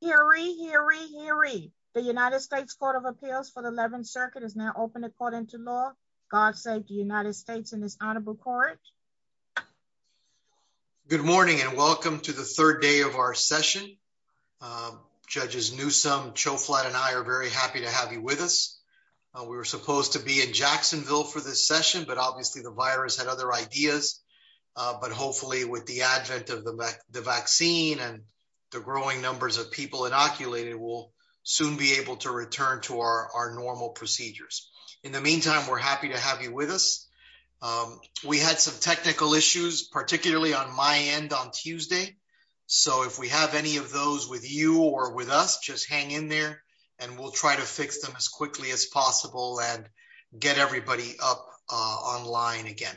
Hear ye, hear ye, hear ye. The United States Court of Appeals for the 11th Circuit is now open according to law. God save the United States in this honorable court. Good morning and welcome to the third day of our session. Judges Newsome, Choflat and I are very happy to have you with us. We were supposed to be in Jacksonville for this session, but obviously the virus had other ideas. But hopefully with advent of the vaccine and the growing numbers of people inoculated, we'll soon be able to return to our normal procedures. In the meantime, we're happy to have you with us. We had some technical issues, particularly on my end on Tuesday. So if we have any of those with you or with us, just hang in there and we'll try to fix them as quickly as possible and get everybody up online again.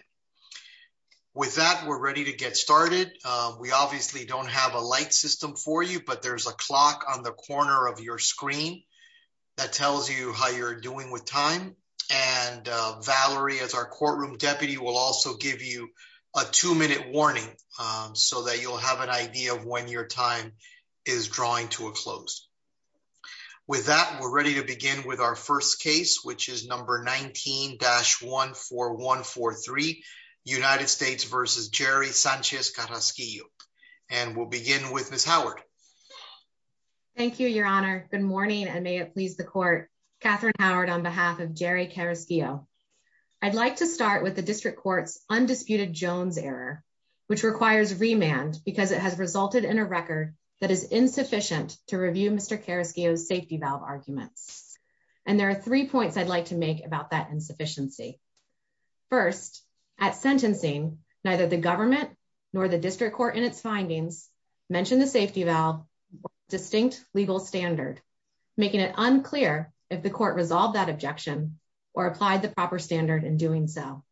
With that, we're ready to get started. We obviously don't have a light system for you, but there's a clock on the corner of your screen that tells you how you're doing with time. And Valerie, as our courtroom deputy, will also give you a two-minute warning so that you'll have an idea of when your time is drawing to a close. With that, we're ready to begin with our 1-4-3 United States versus Jerry Sanchez Carrasquillo. And we'll begin with Ms. Howard. Thank you, your honor. Good morning, and may it please the court. Catherine Howard on behalf of Jerry Carrasquillo. I'd like to start with the district court's undisputed Jones error, which requires remand because it has resulted in a record that is insufficient to review Mr. Carrasquillo's safety valve arguments. And there are three points I'd like to make about that insufficiency. First, at sentencing, neither the government nor the district court in its findings mentioned the safety valve distinct legal standard, making it unclear if the court resolved that objection or applied the proper standard in doing so.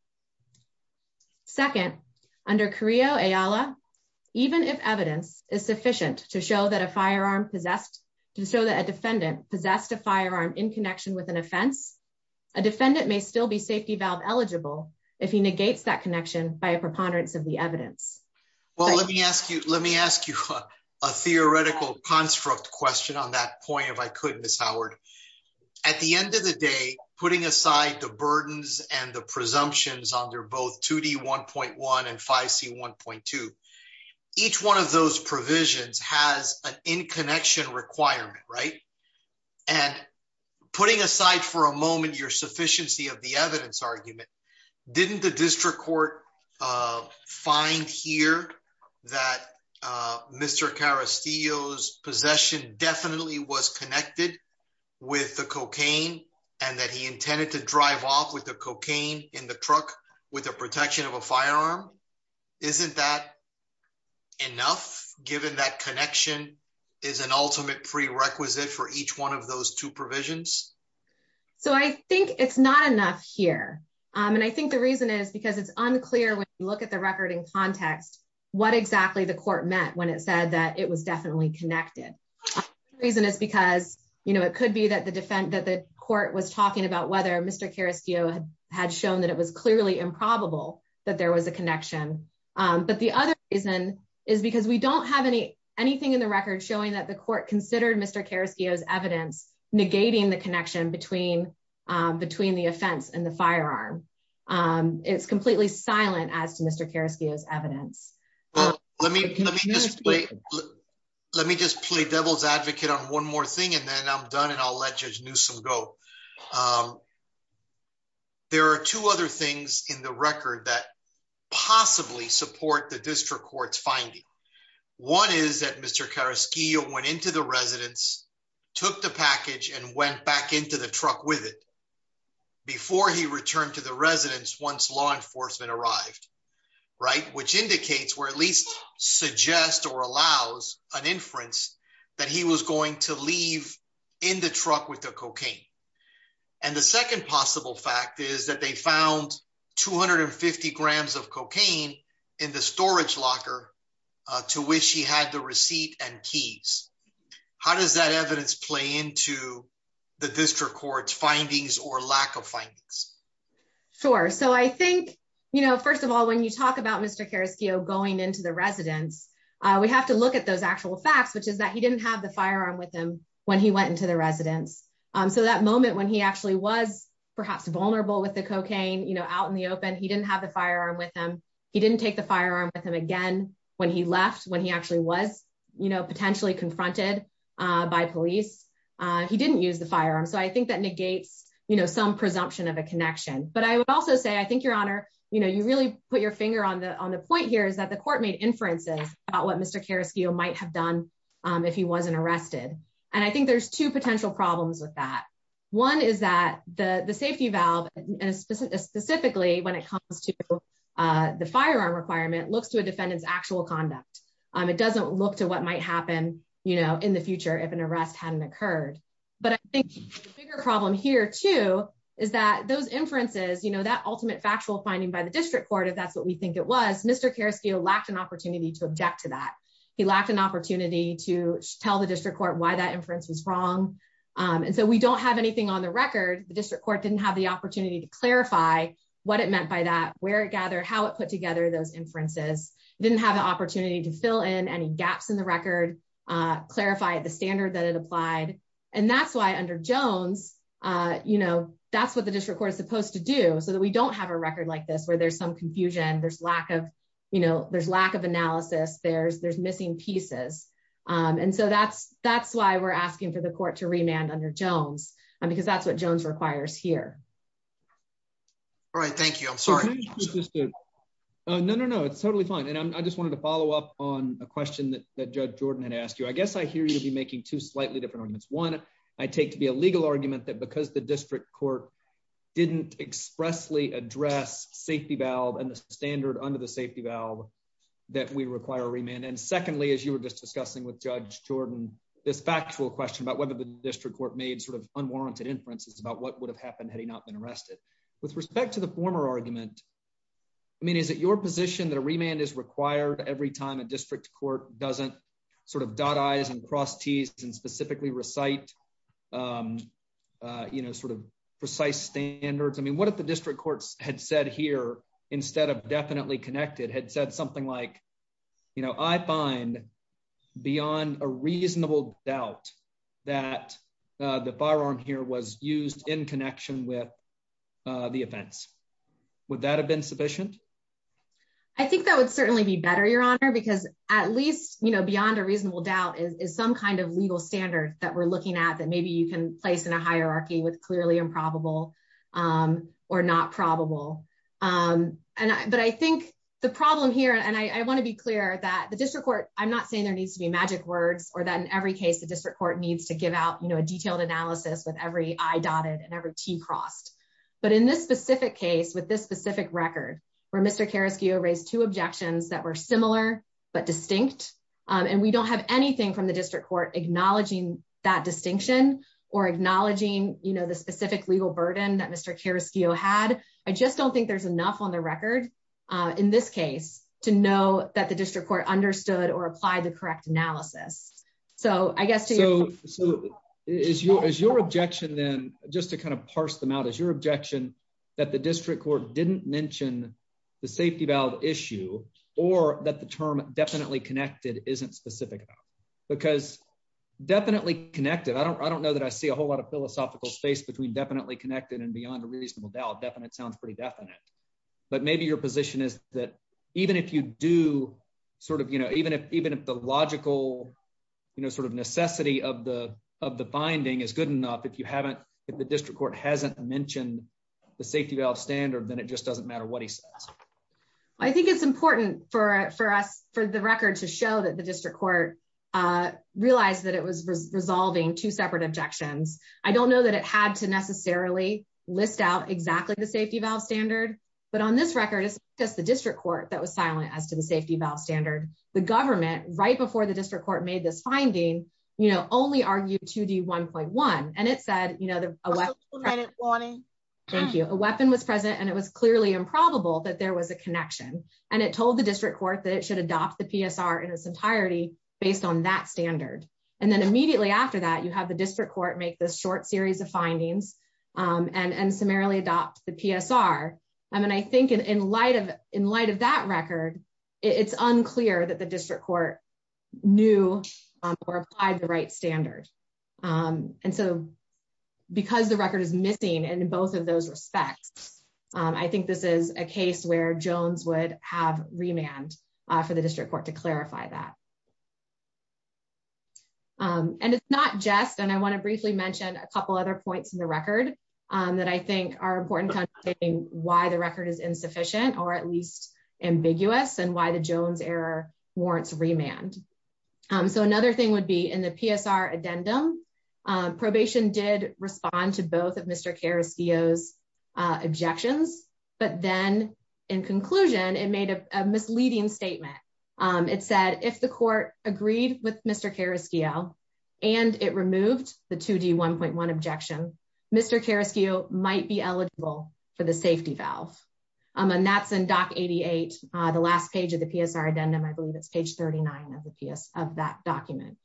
Second, under Carrillo-Ayala, even if evidence is sufficient to show that a firearm possessed, to show that a defendant possessed a firearm in connection with an offense, a defendant may still be safety valve eligible if he negates that connection by a preponderance of the evidence. Well, let me ask you, let me ask you a theoretical construct question on that point, if I could, Ms. Howard. At the end of the day, putting aside the burdens and the presumptions under both 2D1.1 and 5C1.2, each one of those provisions has an in-connection requirement, right? And putting aside for a moment your sufficiency of the evidence argument, didn't the district court find here that Mr. Carrasquillo's possession definitely was connected with the cocaine and that he intended to drive off with enough, given that connection is an ultimate prerequisite for each one of those two provisions? So, I think it's not enough here. And I think the reason is because it's unclear when you look at the record in context, what exactly the court meant when it said that it was definitely connected. The reason is because, you know, it could be that the defense, that the court was talking about whether Mr. Carrasquillo had shown that it was clearly improbable that there was a connection. But the other reason is because we don't have anything in the record showing that the court considered Mr. Carrasquillo's evidence negating the connection between the offense and the firearm. It's completely silent as to Mr. Carrasquillo's evidence. Let me just play devil's advocate on one more thing and then I'm done and I'll let Judge Newsom go. There are two other things in the record that possibly support the district court's finding. One is that Mr. Carrasquillo went into the residence, took the package and went back into the truck with it before he returned to the residence once law enforcement arrived, right? Which indicates, or at least suggests or allows an inference that he was going to leave in the truck with the cocaine. And the second possible fact is that they found 250 grams of cocaine in the storage locker to which he had the receipt and keys. How does that evidence play into the district court's findings or lack of findings? Sure. So I think, you know, first of all, when you talk about Mr. Carrasquillo going into the residence, we have to look at those actual facts, which is that he didn't have the moment when he actually was perhaps vulnerable with the cocaine, you know, out in the open, he didn't have the firearm with him. He didn't take the firearm with him again when he left, when he actually was, you know, potentially confronted by police. He didn't use the firearm. So I think that negates, you know, some presumption of a connection. But I would also say, I think, Your Honor, you know, you really put your finger on the point here is that the court made inferences about what Mr. Carrasquillo might have done if he wasn't arrested. And I think there's two potential problems with that. One is that the safety valve, specifically when it comes to the firearm requirement, looks to a defendant's actual conduct. It doesn't look to what might happen, you know, in the future, if an arrest hadn't occurred. But I think the bigger problem here too, is that those inferences, you know, that ultimate factual finding by the district court, if that's what we think it was, Mr. Carrasquillo lacked an opportunity to object to that. He lacked an opportunity to tell the district court why that inference was wrong. And so we don't have anything on the record. The district court didn't have the opportunity to clarify what it meant by that, where it gathered, how it put together those inferences. It didn't have the opportunity to fill in any gaps in the record, clarify the standard that it applied. And that's why under Jones, you know, that's what the district court is supposed to do, so that we don't have a record like this, where there's some confusion, there's lack of, there's missing pieces. And so that's why we're asking for the court to remand under Jones, because that's what Jones requires here. All right. Thank you. I'm sorry. No, no, no, it's totally fine. And I just wanted to follow up on a question that Judge Jordan had asked you. I guess I hear you to be making two slightly different arguments. One, I take to be a legal argument that because the district court didn't expressly address safety valve and the under the safety valve, that we require a remand. And secondly, as you were just discussing with Judge Jordan, this factual question about whether the district court made sort of unwarranted inferences about what would have happened had he not been arrested. With respect to the former argument, I mean, is it your position that a remand is required every time a district court doesn't sort of dot I's and cross T's and specifically recite, you know, sort of precise standards? I mean, what if the district courts had said here, instead of definitely connected, had said something like, you know, I find beyond a reasonable doubt that the firearm here was used in connection with the offense. Would that have been sufficient? I think that would certainly be better, Your Honor, because at least, you know, beyond a reasonable doubt is some kind of legal standard that we're looking at that maybe you can place in a hierarchy with clearly improbable or not probable. But I think the problem here, and I want to be clear that the district court, I'm not saying there needs to be magic words or that in every case the district court needs to give out, you know, a detailed analysis with every I dotted and every T crossed. But in this specific case, with this specific record, where Mr. Karaskia raised two objections that were similar but distinct, and we don't have anything from the district court acknowledging that distinction or acknowledging, you know, the specific legal burden that Mr. Karaskia had, I just don't think there's enough on the record in this case to know that the district court understood or applied the correct analysis. So I guess... So is your objection then, just to kind of parse them out, is your objection that the district court didn't mention the safety valve issue or that the term definitely connected isn't specific enough? Because definitely connected, I don't know that I see a whole lot of philosophical space between definitely connected and beyond a reasonable doubt. Definite sounds pretty definite. But maybe your position is that even if you do sort of, you know, even if the logical, you know, sort of necessity of the of the finding is good enough, if you haven't, if the district court hasn't mentioned the safety valve standard, then it just doesn't matter what he says. I think it's important for us, for the record, to show that the district court realized that it was resolving two separate objections. I don't know that it had to necessarily list out exactly the safety valve standard, but on this record, it's just the district court that was silent as to the safety valve standard. The government, right before the Thank you. A weapon was present, and it was clearly improbable that there was a connection. And it told the district court that it should adopt the PSR in its entirety based on that standard. And then immediately after that, you have the district court make this short series of findings and summarily adopt the PSR. I mean, I think in light of that record, it's unclear that the district court knew or applied the right standard. And so because the respects, I think this is a case where Jones would have remand for the district court to clarify that. And it's not just and I want to briefly mention a couple other points in the record that I think are important, why the record is insufficient, or at least ambiguous and why the Jones error warrants remand. So another thing would be in the PSR addendum, probation did respond to both of Mr. Carrasquillo objections. But then, in conclusion, it made a misleading statement. It said if the court agreed with Mr. Carrasquillo, and it removed the 2d 1.1 objection, Mr. Carrasquillo might be eligible for the safety valve. And that's in Doc 88, the last page of the PSR addendum, I believe it's page 39 of the PS of that document.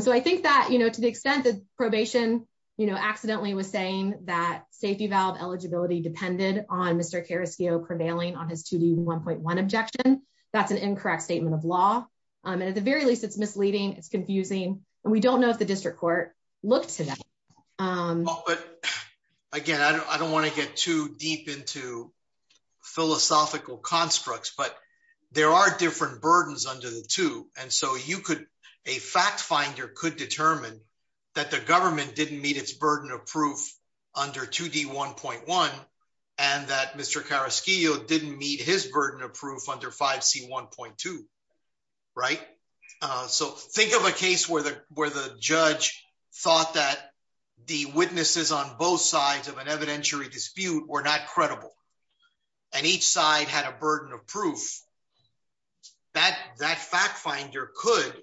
So I think that, you know, to the extent that probation, you know, accidentally was saying that safety valve eligibility depended on Mr. Carrasquillo prevailing on his 2d 1.1 objection. That's an incorrect statement of law. And at the very least, it's misleading. It's confusing. And we don't know if the district court looked to that. Again, I don't want to get too deep into philosophical constructs, but there are different burdens under the two. And so you could, a fact finder could determine that the government didn't meet its burden of proof under 2d 1.1. And that Mr. Carrasquillo didn't meet his burden of proof under 5c 1.2. Right. So think of a case where the where the judge thought that the witnesses on both sides of an evidentiary dispute were not credible. And each side had a burden of proof that that fact finder could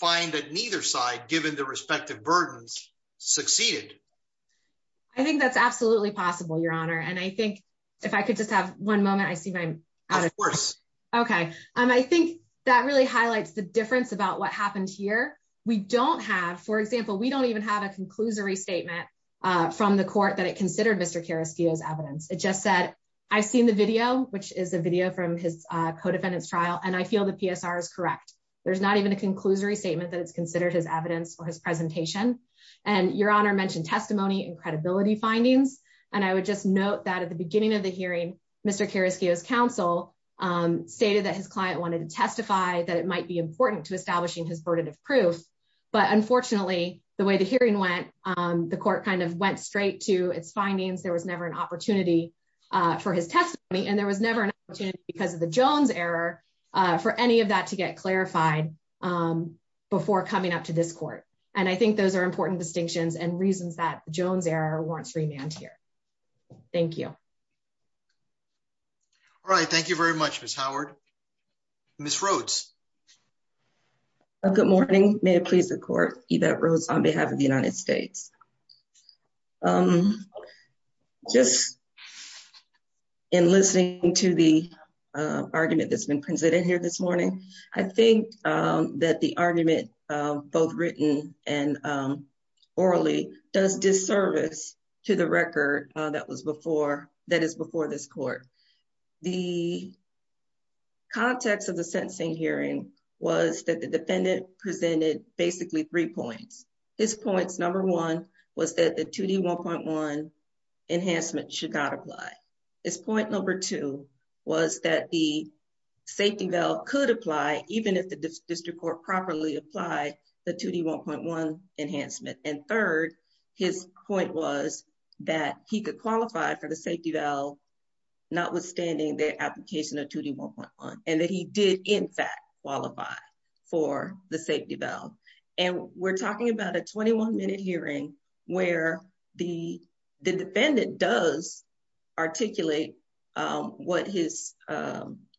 find that neither side given the respective burdens succeeded. I think that's absolutely possible, Your Honor. And I think if I could just have one moment, I see my course. Okay. I think that really highlights the difference about what happened here. We don't have, for example, we don't even have a conclusory statement from the court that it considered Mr. Carrasquillo's evidence. It just said, I've seen the video, which is a video from his co-defendants trial, and I feel the PSR is correct. There's not even a conclusory statement that it's considered his evidence or his presentation. And Your Honor mentioned testimony and credibility findings. And I would just note that at the beginning of the hearing, Mr. Carrasquillo's counsel stated that his client wanted to testify that it might be important to establishing his burden of proof. But unfortunately, the way the the court kind of went straight to its findings, there was never an opportunity for his testimony. And there was never an opportunity because of the Jones error for any of that to get clarified before coming up to this court. And I think those are important distinctions and reasons that Jones error warrants remand here. Thank you. All right. Thank you very much, Ms. Howard. Ms. Rhodes. Good morning. May it please the court, Yvette Rhodes on behalf of the United States. Just in listening to the argument that's been presented here this morning, I think that the argument both written and orally does disservice to the record that was before, that is before this court. The context of the sentencing hearing was that the defendant presented basically three points. His points, number one was that the 2D1.1 enhancement should not apply. His point number two was that the safety valve could apply even if the district court properly apply the 2D1.1 notwithstanding the application of 2D1.1 and that he did in fact qualify for the safety valve. And we're talking about a 21 minute hearing where the defendant does articulate what his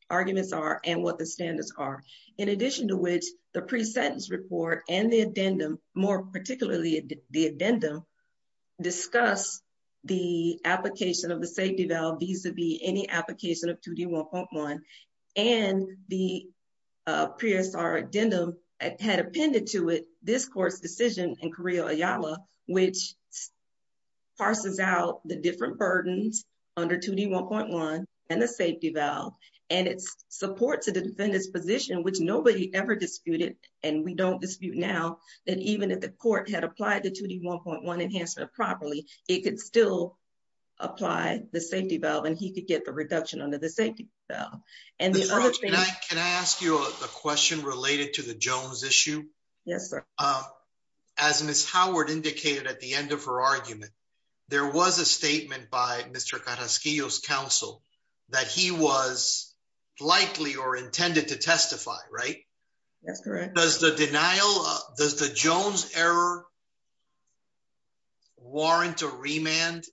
arguments are and what the standards are. In addition to which the pre-sentence report and the addendum more the application of the safety valve vis-a-vis any application of 2D1.1 and the PSR addendum had appended to it this court's decision in Carrillo Ayala, which parses out the different burdens under 2D1.1 and the safety valve and it supports the defendant's position, which nobody ever disputed and we don't dispute now, that even if the court had applied the 2D1.1 properly, it could still apply the safety valve and he could get the reduction under the safety valve. Can I ask you a question related to the Jones issue? Yes sir. As Ms. Howard indicated at the end of her argument, there was a statement by Mr. Carrasquillo's counsel that he was likely or intended to testify, right? That's correct. Does the denial, does the Jones error warrant a remand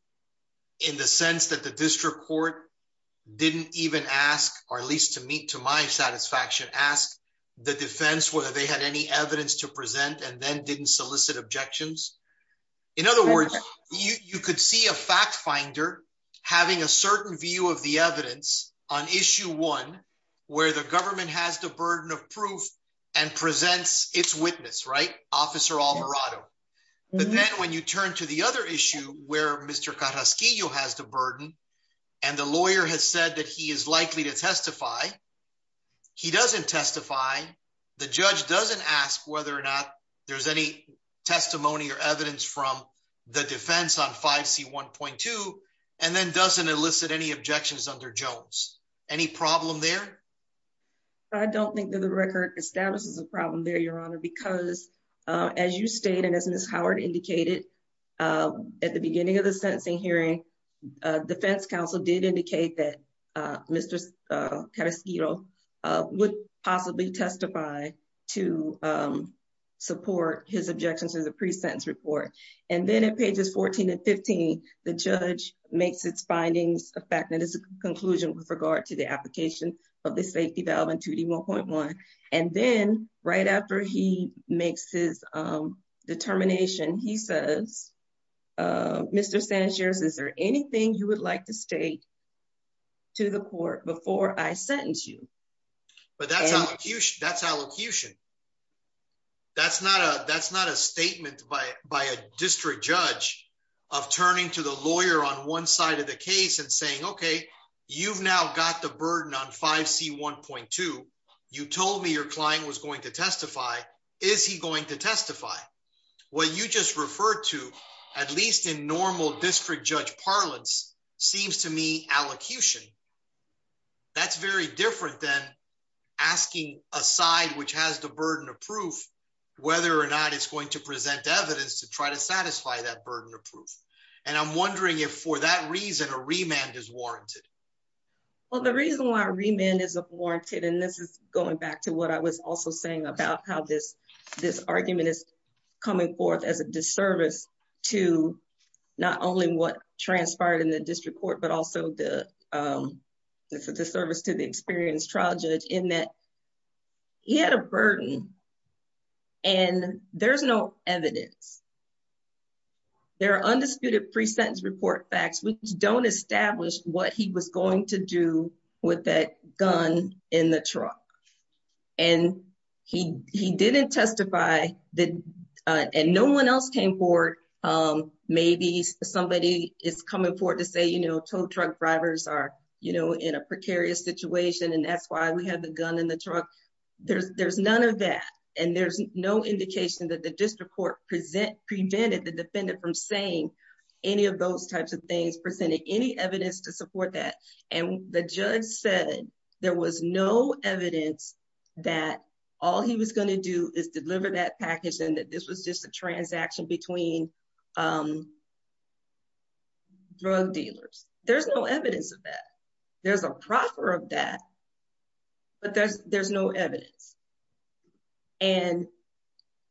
in the sense that the district court didn't even ask, or at least to meet to my satisfaction, ask the defense whether they had any evidence to present and then didn't solicit objections? In other words, you could see a fact finder having a certain view of the evidence on issue one where the government has the burden of proof and presents its witness, right? Officer Alvarado. But then when you turn to the other issue where Mr. Carrasquillo has the burden and the lawyer has said that he is likely to testify, he doesn't testify. The judge doesn't ask whether or not there's any testimony or evidence from the defense on 5C1.2 and then doesn't elicit any objections under Jones. Any problem there? I don't think that the record establishes a problem there, Your Honor, because as you state, and as Ms. Howard indicated at the beginning of the sentencing hearing, defense counsel did indicate that Mr. Carrasquillo would possibly testify to support his objections to the pre-sentence report. And then at pages 14 and 15, the judge makes its findings effective as a conclusion with regard to the application of the safety valve in 2D1.1. And then right after he makes his determination, he says, Mr. Sanchez, is there anything you would like to state to the court before I sentence you? But that's allocution. That's not a statement by a district judge of turning to the lawyer on one side of the case and saying, okay, you've now got the burden on 5C1.2. You told me your client was going to testify. Is he going to testify? What you just referred to, at least in normal district judge parlance, seems to me allocution. That's very different than asking a side which has the burden of proof, whether or not it's going to present evidence to try to for that reason, a remand is warranted. Well, the reason why remand is warranted, and this is going back to what I was also saying about how this argument is coming forth as a disservice to not only what transpired in the district court, but also the service to the experienced trial judge in that he had a burden and there's no evidence. There are undisputed pre-sentence report facts which don't establish what he was going to do with that gun in the truck. And he didn't testify, and no one else came forward. Maybe somebody is coming forward to say, you know, tow truck drivers are, you know, in a precarious situation and that's why we have the gun in the truck. There's none of that, and there's no indication that the district court prevented the defendant from saying any of those types of things, presenting any evidence to support that. And the judge said there was no evidence that all he was going to do is deliver that package and that this was just a transaction between drug dealers. There's no evidence of that. There's a proffer of that, but there's no evidence. And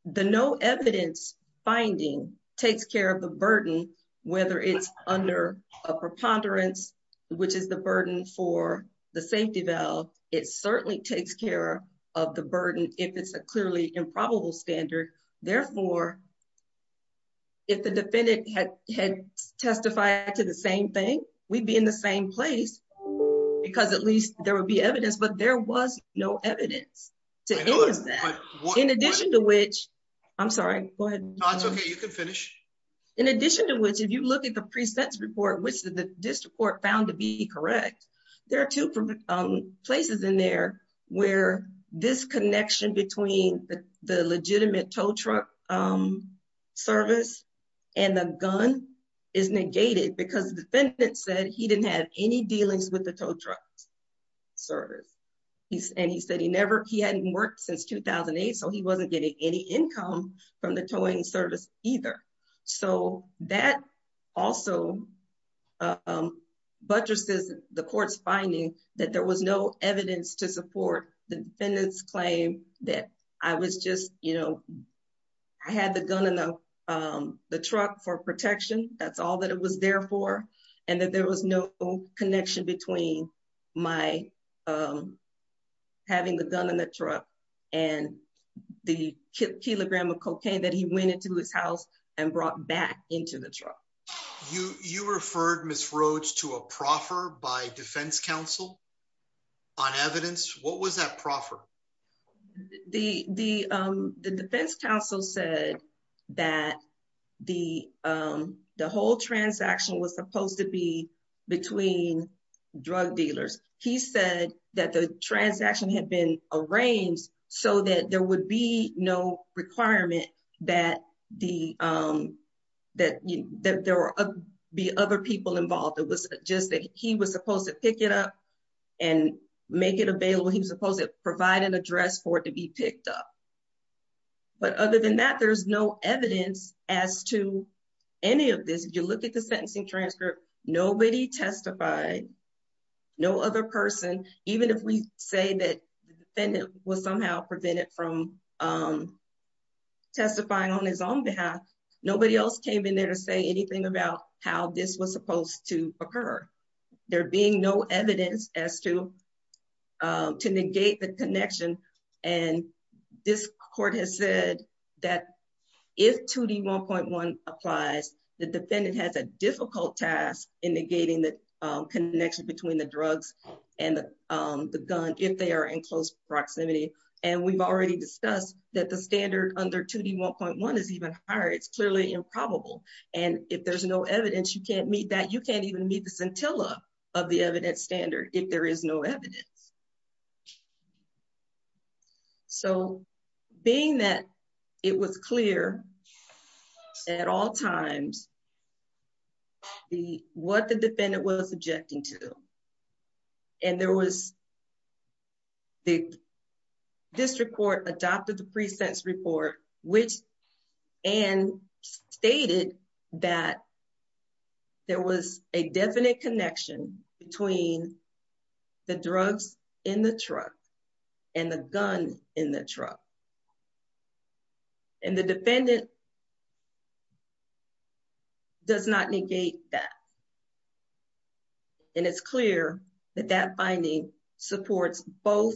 the no evidence finding takes care of the burden, whether it's under a preponderance, which is the burden for the safety valve, it certainly takes care of the burden if it's a clearly improbable standard. Therefore, if the defendant had testified to the same thing, we'd be in the same place because at least there would be evidence, but there was no evidence. To any of that, in addition to which, I'm sorry, go ahead. No, it's okay. You can finish. In addition to which, if you look at the precepts report, which the district court found to be correct, there are two places in there where this connection between the legitimate tow truck service and the gun is negated because the defendant said he didn't have any dealings with the tow truck service. And he said he hadn't worked since 2008, so he wasn't getting any income from the towing service either. So that also buttresses the court's finding that there was no evidence to support the defendant's claim that I had the gun in the truck for protection, that's all that it was there for, and that there was no connection between my having the gun in the truck and the kilogram of cocaine that he went into his house and brought back into the truck. You referred, Ms. Rhodes, to a proffer by defense counsel on evidence. What was that proffer? The defense counsel said that the whole transaction was supposed to be between drug dealers. He said that the transaction had been arranged so that there would be no requirement that there would be other people involved. It was just that he was supposed to pick it up and make it available. He was supposed to provide an address for it to be picked up. But other than that, there's no evidence as to any of this. If you look at the sentencing transcript, nobody testified, no other person. Even if we say that the defendant was somehow prevented from testifying on his own behalf, nobody else came in there to say anything about how this was supposed to occur. There being no evidence as to negate the connection. This court has said that if 2D1.1 applies, the defendant has a difficult task in negating the connection between the drugs and the gun if they are in close proximity. We've already discussed that the standard under 2D1.1 is even higher. It's clearly improbable. If there's no evidence, you can't meet that. You can't even meet the scintilla of the evidence standard if there is no evidence. Being that it was clear at all times what the defendant was objecting to, and the district court adopted the pre-sentence report and stated that there was a definite connection between the drugs in the truck and the gun in the truck. And the defendant does not negate that. And it's clear that that finding supports both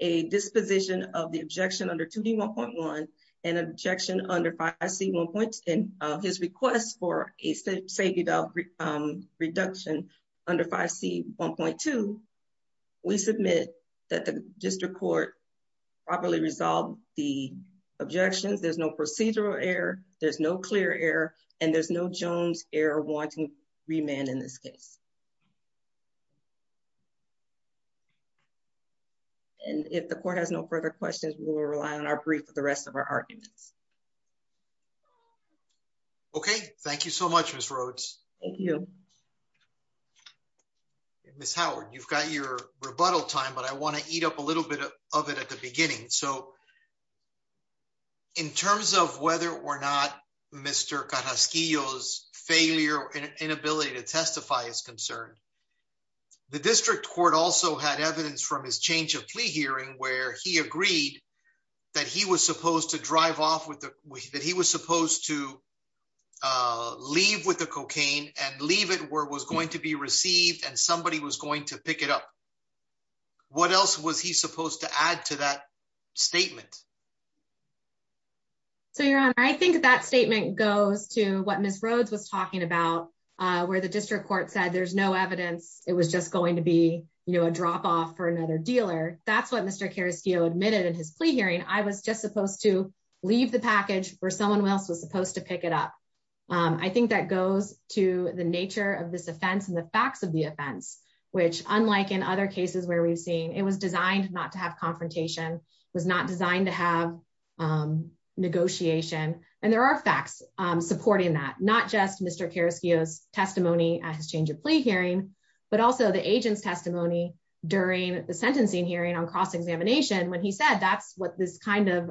a disposition of the objection under 2D1.1 and objection under 5C1.2. And his request for a the objections. There's no procedural error. There's no clear error. And there's no Jones error wanting remand in this case. And if the court has no further questions, we will rely on our brief for the rest of our arguments. Okay. Thank you so much, Ms. Rhodes. Thank you. Ms. Howard, you've got your rebuttal time, but I want to eat up a little bit of it at the beginning. So in terms of whether or not Mr. Carrasquillo's failure or inability to testify is concerned, the district court also had evidence from his change of plea hearing where he agreed that he was supposed to drive off with the, that he was supposed to leave with the cocaine and leave it where it was going to be received and somebody was going to add to that statement. So your honor, I think that statement goes to what Ms. Rhodes was talking about where the district court said there's no evidence. It was just going to be, you know, a drop-off for another dealer. That's what Mr. Carrasquillo admitted in his plea hearing. I was just supposed to leave the package where someone else was supposed to pick it up. I think that goes to the nature of this offense and the facts of the offense, which unlike in other cases where we've seen, it was designed not to have confrontation, was not designed to have negotiation. And there are facts supporting that, not just Mr. Carrasquillo's testimony at his change of plea hearing, but also the agent's testimony during the sentencing hearing on cross-examination when he said that's what this kind of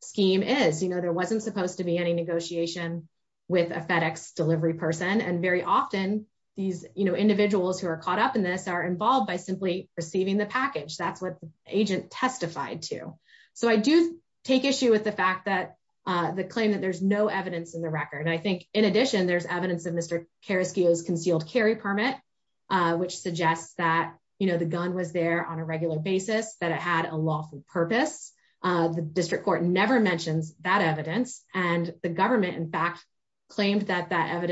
scheme is. You know, there wasn't supposed to be any negotiation with a FedEx delivery person and very often these, you know, individuals who are caught up in this are involved by simply receiving the package. That's what the agent testified to. So I do take issue with the fact that the claim that there's no evidence in the record. I think in addition, there's evidence of Mr. Carrasquillo's concealed carry permit, which suggests that, you know, the gun was there on a regular basis, that it had a lawful purpose. The district court never mentions that evidence and the government in fact claimed that that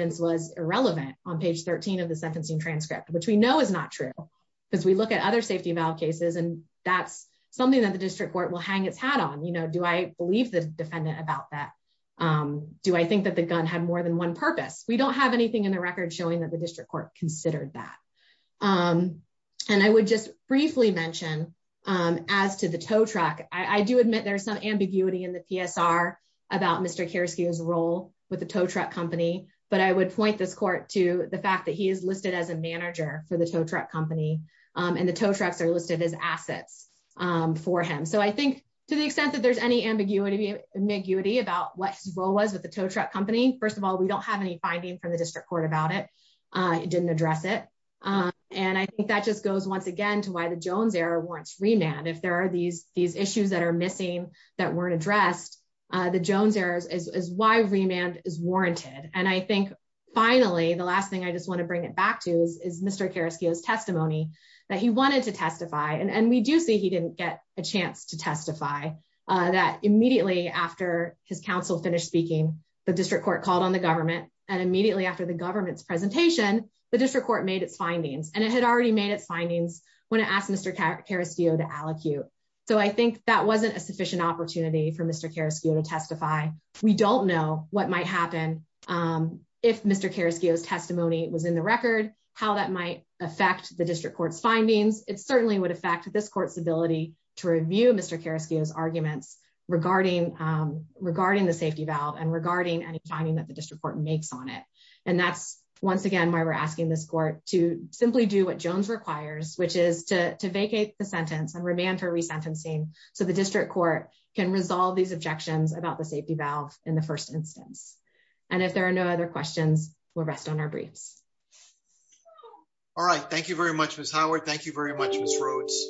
transcript, which we know is not true because we look at other safety valve cases and that's something that the district court will hang its hat on. You know, do I believe the defendant about that? Do I think that the gun had more than one purpose? We don't have anything in the record showing that the district court considered that. And I would just briefly mention as to the tow truck, I do admit there's some ambiguity in the PSR about Mr. Carrasquillo's role with the tow truck company, but I would point this court to the fact that he is listed as a manager for the tow truck company and the tow trucks are listed as assets for him. So I think to the extent that there's any ambiguity about what his role was with the tow truck company, first of all, we don't have any finding from the district court about it. It didn't address it. And I think that just goes once again to why the Jones error warrants remand. If there are these issues that are missing that weren't addressed, the Jones errors is why remand is warranted. And I think finally, the last thing I just want to bring it back to is Mr. Carrasquillo's testimony that he wanted to testify and we do see he didn't get a chance to testify that immediately after his counsel finished speaking, the district court called on the government and immediately after the government's presentation, the district court made its findings and it had already made its findings when it asked Mr. Carrasquillo to testify. We don't know what might happen if Mr. Carrasquillo's testimony was in the record, how that might affect the district court's findings. It certainly would affect this court's ability to review Mr. Carrasquillo's arguments regarding the safety valve and regarding any finding that the district court makes on it. And that's once again, why we're asking this court to simply do what Jones requires, which is to vacate the sentence and remand for resentencing. So the district court can resolve these objections about the safety valve in the first instance. And if there are no other questions, we'll rest on our briefs. All right. Thank you very much, Ms. Howard. Thank you very much, Ms. Rhodes.